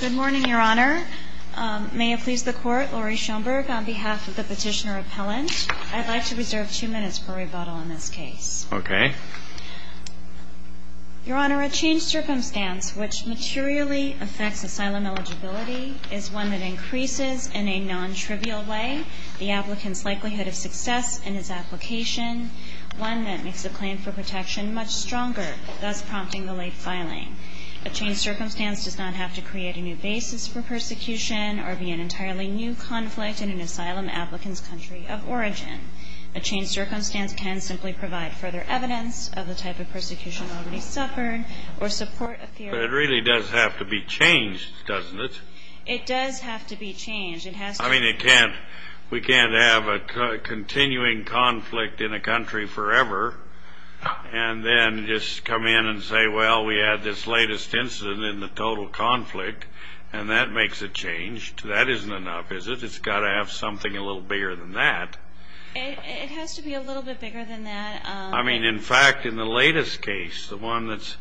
Good morning, Your Honor. May it please the Court, Laurie Schoenberg on behalf of the petitioner-appellant. I'd like to reserve two minutes per rebuttal on this case. Okay. Your Honor, a changed circumstance which materially affects asylum eligibility is one that increases in a non-trivial way the applicant's likelihood of success in his application, one that makes a claim for protection much stronger, thus prompting the late filing. A changed circumstance does not have to create a new basis for persecution or be an entirely new conflict in an asylum applicant's country of origin. A changed circumstance can simply provide further evidence of the type of persecution already suffered or support a theory... But it really does have to be changed, doesn't it? It does have to be changed. It has to... I mean, we can't have a continuing conflict in a country forever and then just come in and say, well, we had this latest incident in the total conflict, and that makes a change. That isn't enough, is it? It's got to have something a little bigger than that. It has to be a little bit bigger than that. I mean, in fact, in the latest case, the one that's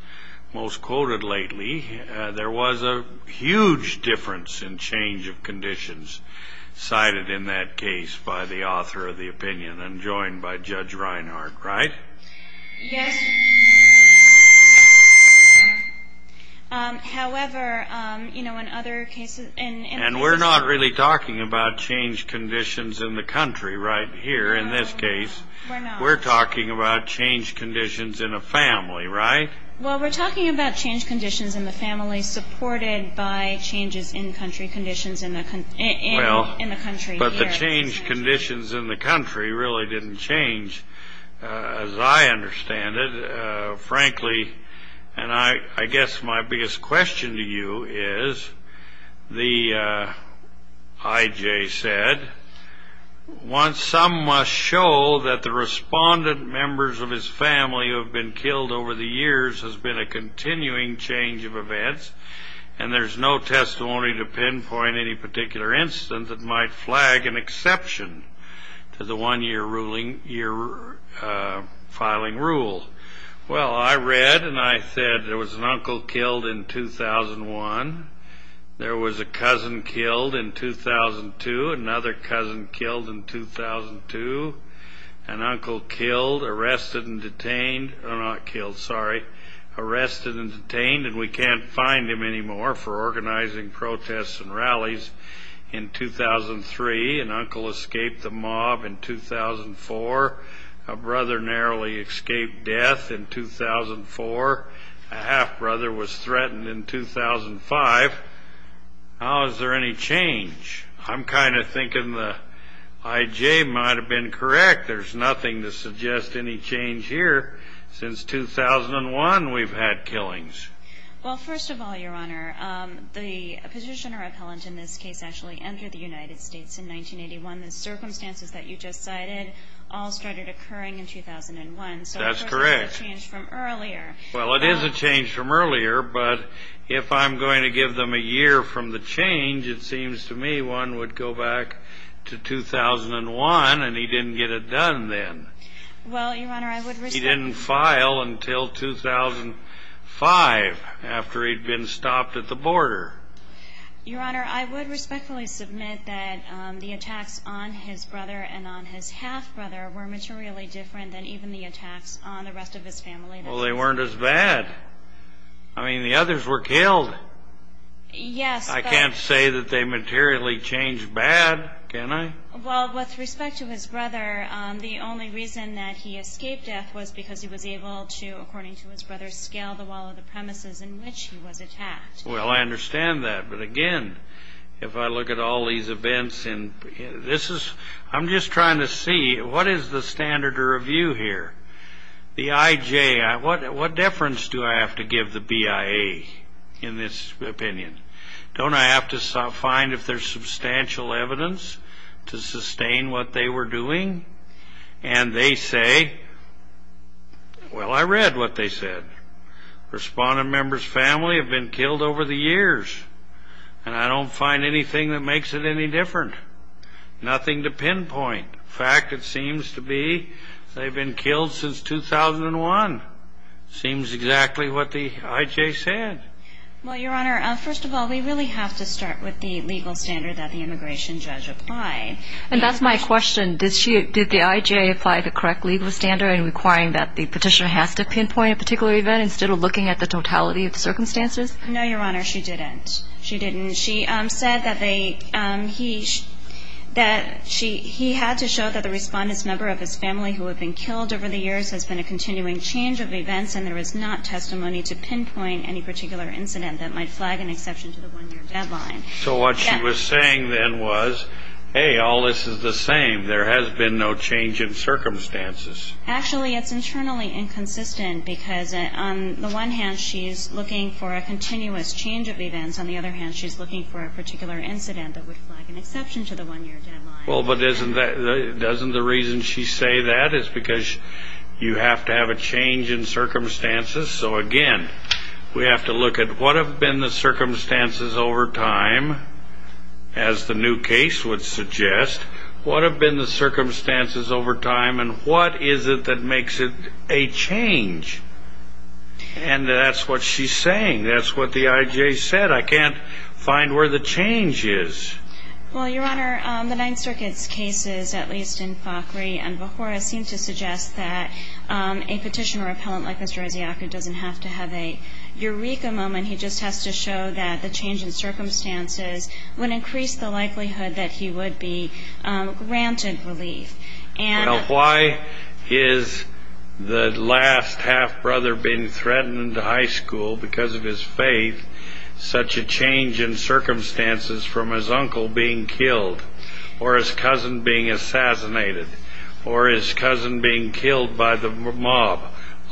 most quoted lately, there was a huge difference in change of conditions cited in that case by the author of the opinion, and joined by Judge Reinhart, right? Yes. However, you know, in other cases... And we're not really talking about change conditions in the country right here in this case. We're not. We're talking about change conditions in a family, right? Well, we're talking about change conditions in the family supported by changes in country conditions in the country here in this case. But the change conditions in the country really didn't change, as I understand it. And I guess my biggest question to you is, the IJ said, some must show that the respondent members of his family who have been killed over the years has been a continuing change of events, and there's no testimony to pinpoint any particular incident that might flag an exception to the one-year filing rule. Well, I read and I said there was an uncle killed in 2001. There was a cousin killed in 2002. Another cousin killed in 2002. An uncle killed, arrested, and detained. Not killed, sorry. Arrested and detained, and we can't find him anymore for organizing protests and rallies in 2003. An uncle escaped the mob in 2004. A brother narrowly escaped death in 2004. A half-brother was threatened in 2005. Now, is there any change? I'm kind of thinking the IJ might have been correct. There's nothing to suggest any change here. Since 2001, we've had killings. Well, first of all, Your Honor, the petitioner appellant in this case actually entered the United States in 1981. The circumstances that you just cited all started occurring in 2001. That's correct. So it's a change from earlier. Well, it is a change from earlier, but if I'm going to give them a year from the change, it seems to me one would go back to 2001, and he didn't get it done then. Well, Your Honor, I would respect that. He didn't file until 2005 after he'd been stopped at the border. Your Honor, I would respectfully submit that the attacks on his brother and on his half-brother were materially different than even the attacks on the rest of his family. Well, they weren't as bad. I mean, the others were killed. Yes, but ---- I can't say that they materially changed bad, can I? Well, with respect to his brother, the only reason that he escaped death was because he was able to, according to his brother, scale the wall of the premises in which he was attacked. Well, I understand that, but again, if I look at all these events, I'm just trying to see what is the standard to review here? The IJ, what deference do I have to give the BIA in this opinion? Don't I have to find if there's substantial evidence to sustain what they were doing? And they say, well, I read what they said. Respondent members' family have been killed over the years, and I don't find anything that makes it any different, nothing to pinpoint. In fact, it seems to be they've been killed since 2001. It seems exactly what the IJ said. Well, Your Honor, first of all, we really have to start with the legal standard that the immigration judge applied. And that's my question. Did the IJ apply the correct legal standard in requiring that the petitioner has to pinpoint a particular event instead of looking at the totality of the circumstances? No, Your Honor, she didn't. She didn't. She said that he had to show that the respondent's member of his family who had been killed over the years has been a continuing change of events, and there is not testimony to pinpoint any particular incident that might flag an exception to the one-year deadline. So what she was saying then was, hey, all this is the same. There has been no change in circumstances. Actually, it's internally inconsistent because on the one hand, she's looking for a continuous change of events. On the other hand, she's looking for a particular incident that would flag an exception to the one-year deadline. Well, but doesn't the reason she say that is because you have to have a change in circumstances? So, again, we have to look at what have been the circumstances over time, as the new case would suggest. What have been the circumstances over time, and what is it that makes it a change? And that's what she's saying. That's what the IJ said. I can't find where the change is. Well, Your Honor, the Ninth Circuit's cases, at least in Fakhri and Bahura, seem to suggest that a petitioner or appellant like Mr. Osiaka doesn't have to have a eureka moment. He just has to show that the change in circumstances would increase the likelihood that he would be granted relief. Now, why is the last half-brother being threatened in high school because of his faith, such a change in circumstances from his uncle being killed or his cousin being assassinated or his cousin being killed by the mob,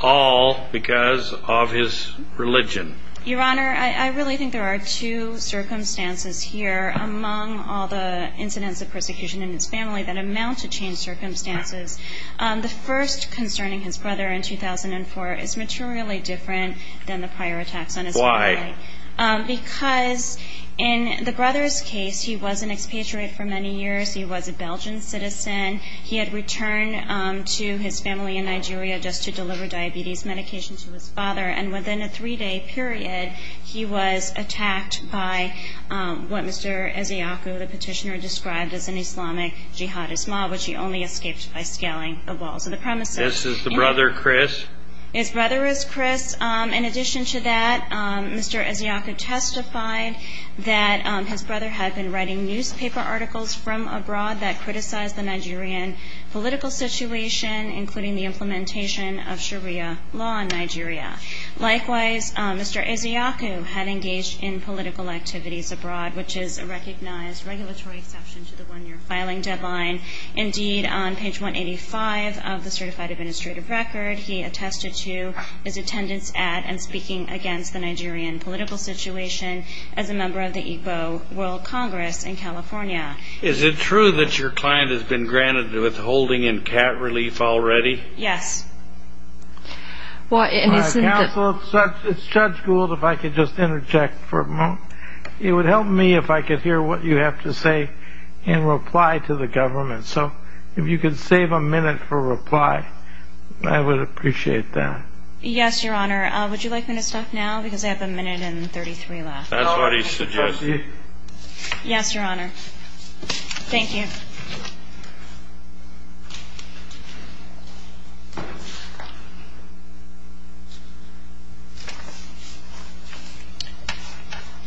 all because of his religion? Your Honor, I really think there are two circumstances here among all the incidents of persecution in his family that amount to changed circumstances. The first concerning his brother in 2004 is materially different than the prior attacks on his family. Why? Because in the brother's case, he was an expatriate for many years. He was a Belgian citizen. He had returned to his family in Nigeria just to deliver diabetes medication to his father. And within a three-day period, he was attacked by what Mr. Osiaka, the petitioner, described as an Islamic jihadist mob, which he only escaped by scaling the walls of the premises. This is the brother, Chris? His brother is Chris. In addition to that, Mr. Osiaka testified that his brother had been writing newspaper articles from abroad that criticized the Nigerian political situation, including the implementation of Sharia law in Nigeria. Likewise, Mr. Osiaka had engaged in political activities abroad, which is a recognized regulatory exception to the one-year filing deadline. Indeed, on page 185 of the certified administrative record, he attested to his attendance at and speaking against the Nigerian political situation as a member of the Igbo World Congress in California. Is it true that your client has been granted withholding and cat relief already? Yes. Counsel, it's Judge Gould, if I could just interject for a moment. It would help me if I could hear what you have to say in reply to the government. So if you could save a minute for reply, I would appreciate that. Yes, Your Honor. Would you like me to stop now because I have a minute and 33 left? That's what he suggested. Yes, Your Honor. Thank you.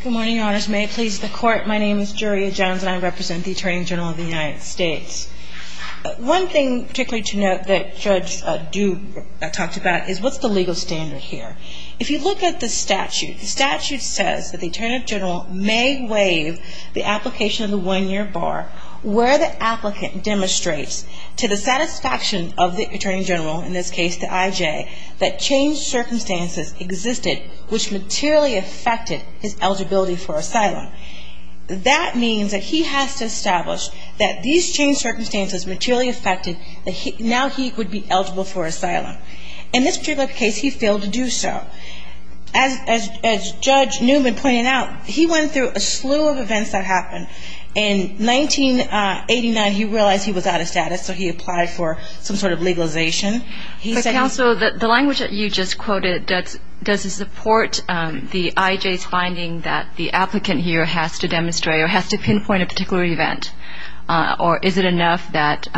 Good morning, Your Honors. May it please the Court. My name is Julia Johns and I represent the Attorney General of the United States. One thing particularly to note that Judge Duke talked about is what's the legal standard here? If you look at the statute, the statute says that the Attorney General may waive the application of the one-year bar where the applicant demonstrates to the satisfaction of the Attorney General, in this case the IJ, that changed circumstances existed which materially affected his eligibility for asylum. That means that he has to establish that these changed circumstances materially affected, that now he would be eligible for asylum. In this particular case, he failed to do so. As Judge Newman pointed out, he went through a slew of events that happened. In 1989, he realized he was out of status, so he applied for some sort of legalization. Counsel, the language that you just quoted, does it support the IJ's finding that the applicant here has to demonstrate or has to pinpoint a particular event, or is it enough that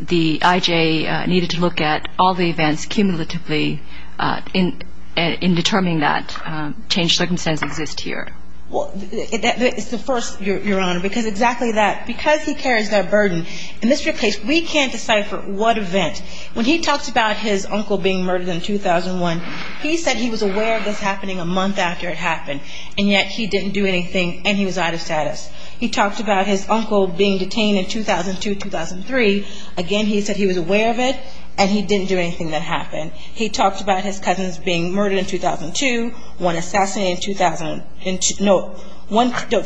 the IJ needed to look at all the events cumulatively in determining that changed circumstances exist here? It's the first, Your Honor, because exactly that, because he carries that burden. In this real case, we can't decipher what event. When he talks about his uncle being murdered in 2001, he said he was aware of this happening a month after it happened, and yet he didn't do anything, and he was out of status. He talked about his uncle being detained in 2002, 2003. Again, he said he was aware of it, and he didn't do anything that happened. He talked about his cousins being murdered in 2002, one assassinated in 2000, no,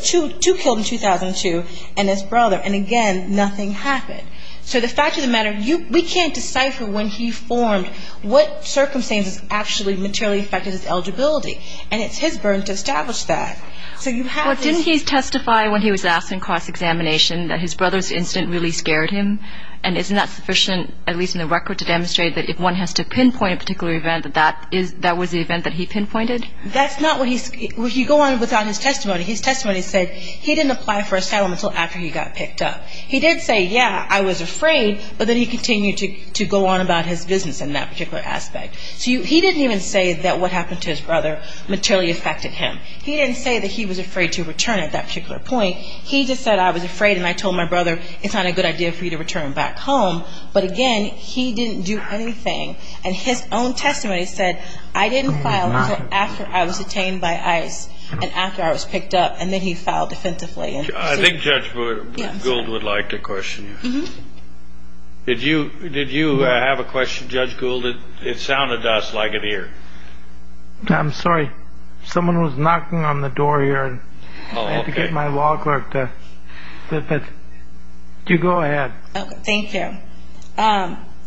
two killed in 2002, and his brother. And again, nothing happened. So the fact of the matter, we can't decipher when he formed what circumstances actually materially affected his eligibility, and it's his burden to establish that. Didn't he testify when he was asked in cross-examination that his brother's incident really scared him, and isn't that sufficient, at least in the record, to demonstrate that if one has to pinpoint a particular event, that that was the event that he pinpointed? That's not what he's going on without his testimony. His testimony said he didn't apply for asylum until after he got picked up. He did say, yeah, I was afraid, but then he continued to go on about his business in that particular aspect. So he didn't even say that what happened to his brother materially affected him. He didn't say that he was afraid to return at that particular point. He just said, I was afraid, and I told my brother, it's not a good idea for you to return back home. But again, he didn't do anything. And his own testimony said, I didn't file until after I was detained by ICE and after I was picked up, and then he filed defensively. I think Judge Gould would like to question you. Did you have a question, Judge Gould? It sounded to us like an ear. I'm sorry. Someone was knocking on the door here, and I had to get my law clerk to go ahead. Thank you.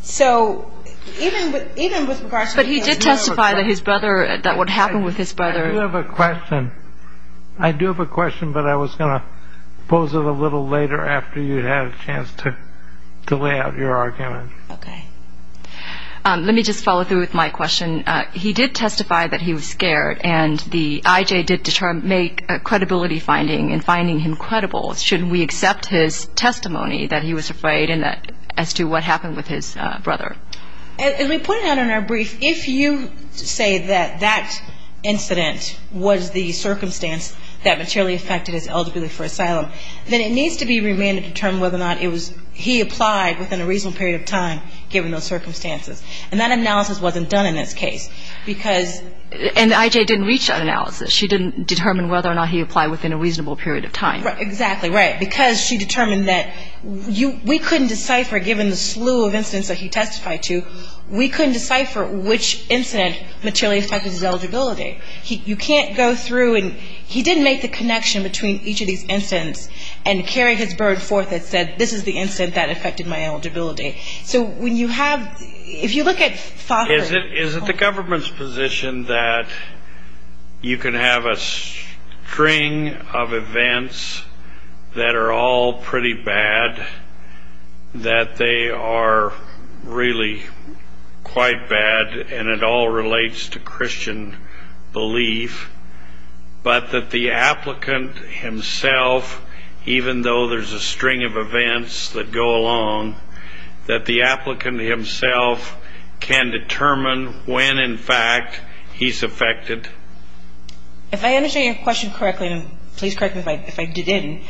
So even with regards to his brother. But he did testify that his brother, that what happened with his brother. I do have a question. I do have a question, but I was going to pose it a little later after you had a chance to lay out your argument. Okay. Let me just follow through with my question. He did testify that he was scared, and the IJ did make a credibility finding in finding him credible. Should we accept his testimony that he was afraid as to what happened with his brother? As we put it out in our brief, if you say that that incident was the circumstance that materially affected his eligibility for asylum, then it needs to be remanded to determine whether or not he applied within a reasonable period of time, given those circumstances. And that analysis wasn't done in this case, because the IJ didn't reach that analysis. She didn't determine whether or not he applied within a reasonable period of time. Exactly, right. Because she determined that we couldn't decipher, given the slew of incidents that he testified to, we couldn't decipher which incident materially affected his eligibility. You can't go through and he didn't make the connection between each of these incidents and carried his burden forth and said, this is the incident that affected my eligibility. So when you have – if you look at – Is it the government's position that you can have a string of events that are all pretty bad, that they are really quite bad and it all relates to Christian belief, but that the applicant himself, even though there's a string of events that go along, that the applicant himself can determine when, in fact, he's affected? If I understand your question correctly, and please correct me if I didn't,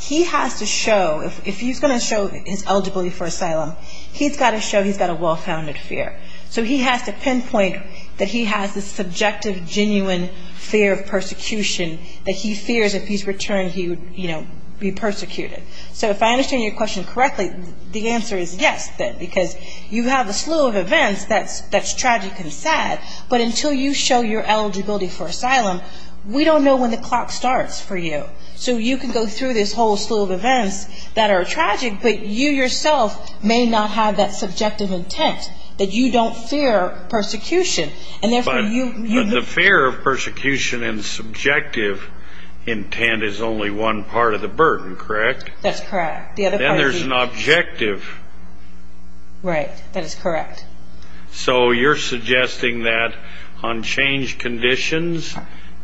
he has to show – if he's going to show his eligibility for asylum, he's got to show he's got a well-founded fear. So he has to pinpoint that he has this subjective, genuine fear of persecution, that he fears if he's returned, he would, you know, be persecuted. So if I understand your question correctly, the answer is yes, then, because you have a slew of events that's tragic and sad, but until you show your eligibility for asylum, we don't know when the clock starts for you. So you can go through this whole slew of events that are tragic, but you yourself may not have that subjective intent, that you don't fear persecution. But the fear of persecution and subjective intent is only one part of the burden, correct? That's correct. Then there's an objective. Right, that is correct. So you're suggesting that on change conditions,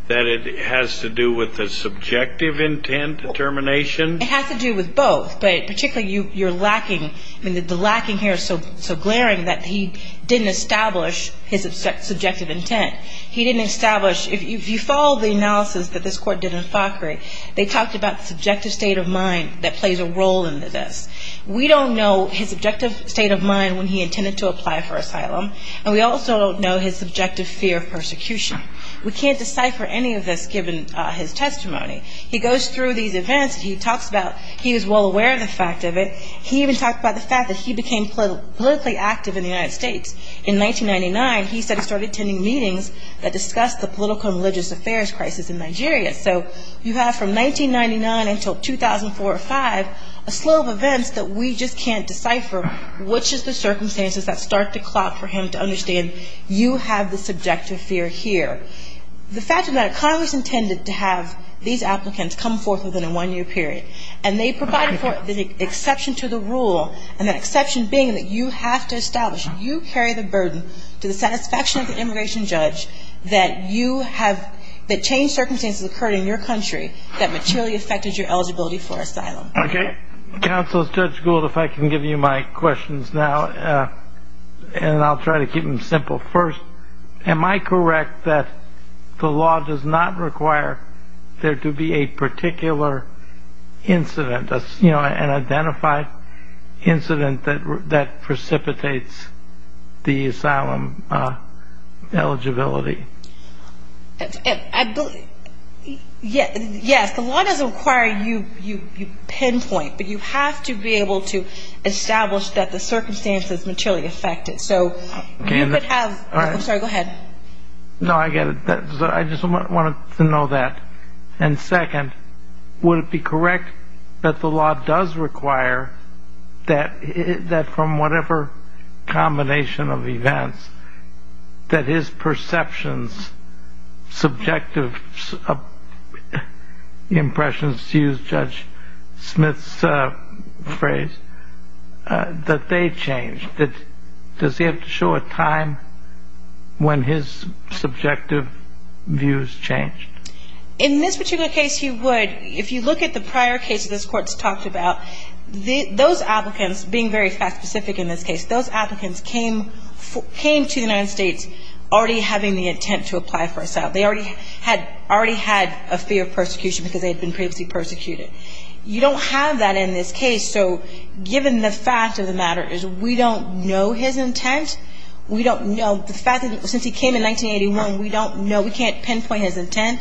that it has to do with the subjective intent determination? It has to do with both, but particularly you're lacking – I mean, the lacking here is so glaring that he didn't establish his subjective intent. He didn't establish – if you follow the analysis that this court did in Fakhry, they talked about the subjective state of mind that plays a role in this. We don't know his objective state of mind when he intended to apply for asylum, and we also don't know his subjective fear of persecution. We can't decipher any of this given his testimony. He goes through these events. He talks about he was well aware of the fact of it. He even talked about the fact that he became politically active in the United States. In 1999, he said he started attending meetings that discussed the political and religious affairs crisis in Nigeria. So you have from 1999 until 2004 or 2005 a slew of events that we just can't decipher, which is the circumstances that start to clock for him to understand, you have the subjective fear here. The fact of the matter, Congress intended to have these applicants come forth within a one-year period, and they provided for the exception to the rule, and that exception being that you have to establish you carry the burden to the satisfaction of the immigration judge that you have – that changed circumstances occurred in your country that materially affected your eligibility for asylum. Okay. Counsel, Judge Gould, if I can give you my questions now, and I'll try to keep them simple. First, am I correct that the law does not require there to be a particular incident, an identified incident that precipitates the asylum eligibility? Yes. The law doesn't require you pinpoint, but you have to be able to establish that the circumstances materially affect it. So you could have – I'm sorry, go ahead. No, I get it. I just wanted to know that. And second, would it be correct that the law does require that from whatever combination of events, that his perceptions, subjective impressions, to use Judge Smith's phrase, that they change? Does he have to show a time when his subjective views changed? In this particular case, he would. If you look at the prior cases this Court's talked about, those applicants, being very fact-specific in this case, those applicants came to the United States already having the intent to apply for asylum. They already had a fear of persecution because they had been previously persecuted. You don't have that in this case, so given the fact of the matter is we don't know his intent, we don't know the fact that since he came in 1981, we don't know, we can't pinpoint his intent,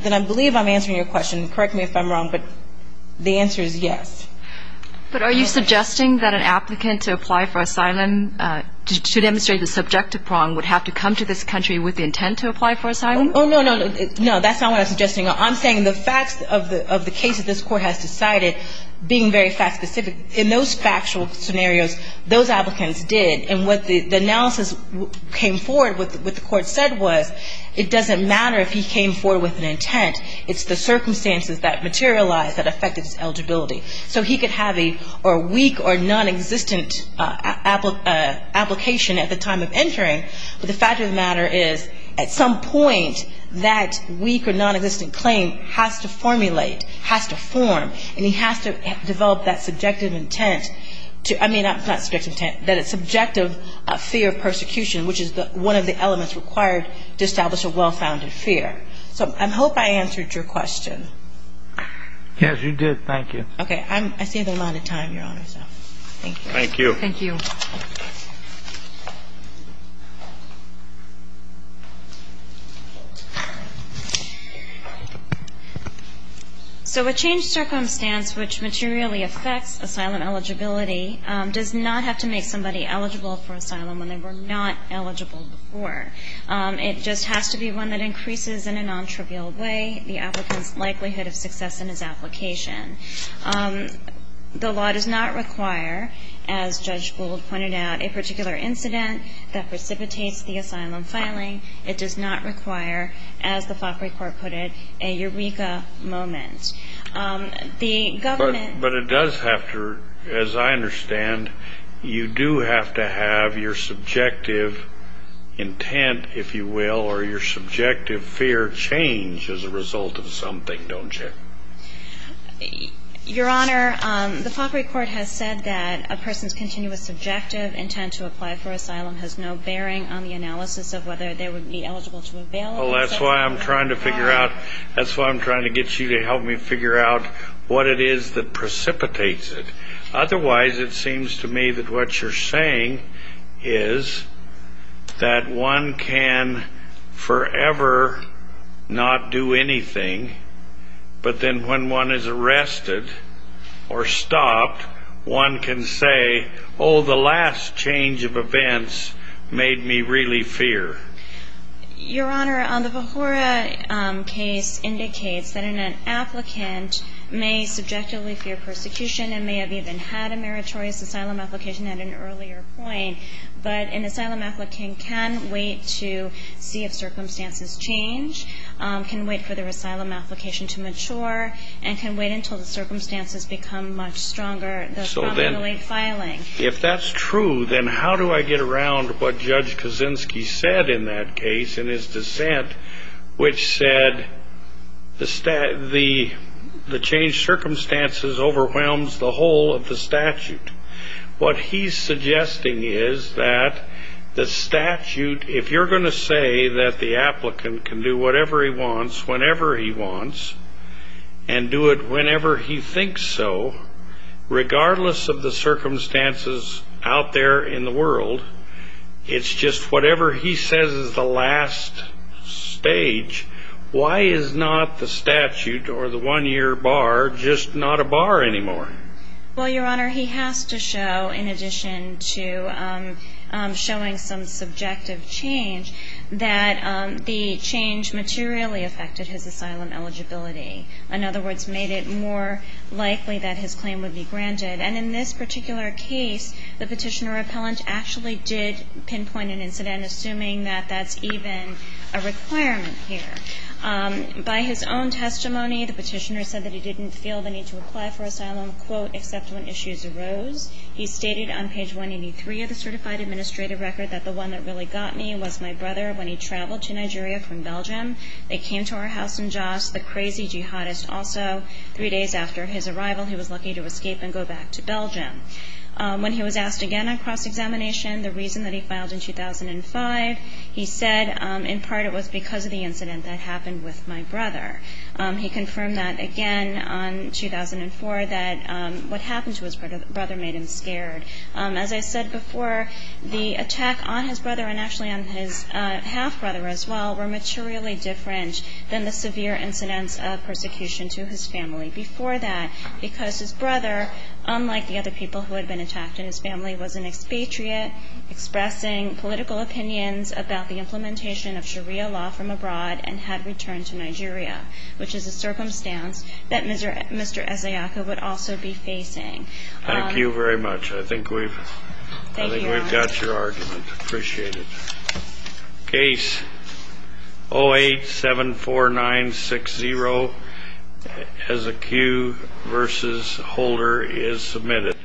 then I believe I'm answering your question. Correct me if I'm wrong, but the answer is yes. But are you suggesting that an applicant to apply for asylum to demonstrate a subjective prong would have to come to this country with the intent to apply for asylum? Oh, no, no, no. No, that's not what I'm suggesting. I'm saying the facts of the case that this Court has decided, being very fact-specific, in those factual scenarios, those applicants did, and what the analysis came forward with what the Court said was it doesn't matter if he came forward with an intent. It's the circumstances that materialized that affected his eligibility. So he could have a weak or nonexistent application at the time of entering, but the fact of the matter is at some point that weak or nonexistent claim has to formulate, has to form, and he has to develop that subjective intent to, I mean, not subjective intent, that it's subjective fear of persecution, which is one of the elements required to establish a well-founded fear. So I hope I answered your question. Yes, you did. Thank you. Okay. I see the amount of time, Your Honor, so thank you. Thank you. Thank you. Thank you. So a changed circumstance which materially affects asylum eligibility does not have to make somebody eligible for asylum when they were not eligible before. It just has to be one that increases in a non-trivial way the applicant's likelihood of success in his application. The law does not require, as Judge Gould pointed out, a particular incident that precipitates the asylum filing. It does not require, as the FOCRI court put it, a eureka moment. The government But it does have to, as I understand, you do have to have your subjective intent, if you will, or your subjective fear change as a result of something, don't you? Your Honor, the FOCRI court has said that a person's continuous subjective intent to apply for asylum has no bearing on the analysis of whether they would be eligible to avail. Well, that's why I'm trying to figure out, that's why I'm trying to get you to help me figure out what it is that precipitates it. Otherwise, it seems to me that what you're saying is that one can forever not do anything, but then when one is arrested or stopped, one can say, oh, the last change of events made me really fear. Your Honor, the Vahoura case indicates that an applicant may subjectively fear persecution and may have even had a meritorious asylum application at an earlier point, but an asylum applicant can wait to see if circumstances change, can wait for their asylum application to mature, and can wait until the circumstances become much stronger, thus probably delaying filing. If that's true, then how do I get around what Judge Kaczynski said in that case in his dissent, which said the changed circumstances overwhelms the whole of the statute? What he's suggesting is that the statute, if you're going to say that the applicant can do whatever he wants, whenever he wants, and do it whenever he thinks so, regardless of the circumstances out there in the world, it's just whatever he says is the last stage. Why is not the statute or the one-year bar just not a bar anymore? Well, Your Honor, he has to show, in addition to showing some subjective change, that the change materially affected his asylum eligibility, in other words, made it more likely that his claim would be granted. And in this particular case, the Petitioner-Appellant actually did pinpoint an incident, assuming that that's even a requirement here. By his own testimony, the Petitioner said that he didn't feel the need to apply for asylum, quote, except when issues arose. He stated on page 183 of the certified administrative record that the one that really got me was my brother when he traveled to Nigeria from Belgium. They came to our house in Jos, the crazy jihadist. Also, three days after his arrival, he was lucky to escape and go back to Belgium. When he was asked again on cross-examination the reason that he filed in 2005, he said, in part, it was because of the incident that happened with my brother. He confirmed that again on 2004, that what happened to his brother made him scared. As I said before, the attack on his brother, and actually on his half-brother as well, were materially different than the severe incidents of persecution to his family. Before that, because his brother, unlike the other people who had been attacked in his family, was an expatriate expressing political opinions about the implementation of Sharia law from abroad and had returned to Nigeria, which is a circumstance that Mr. Asayaka would also be facing. Thank you very much. I think we've got your argument. Appreciate it. Case 0874960 Ezekiel v. Holder is submitted.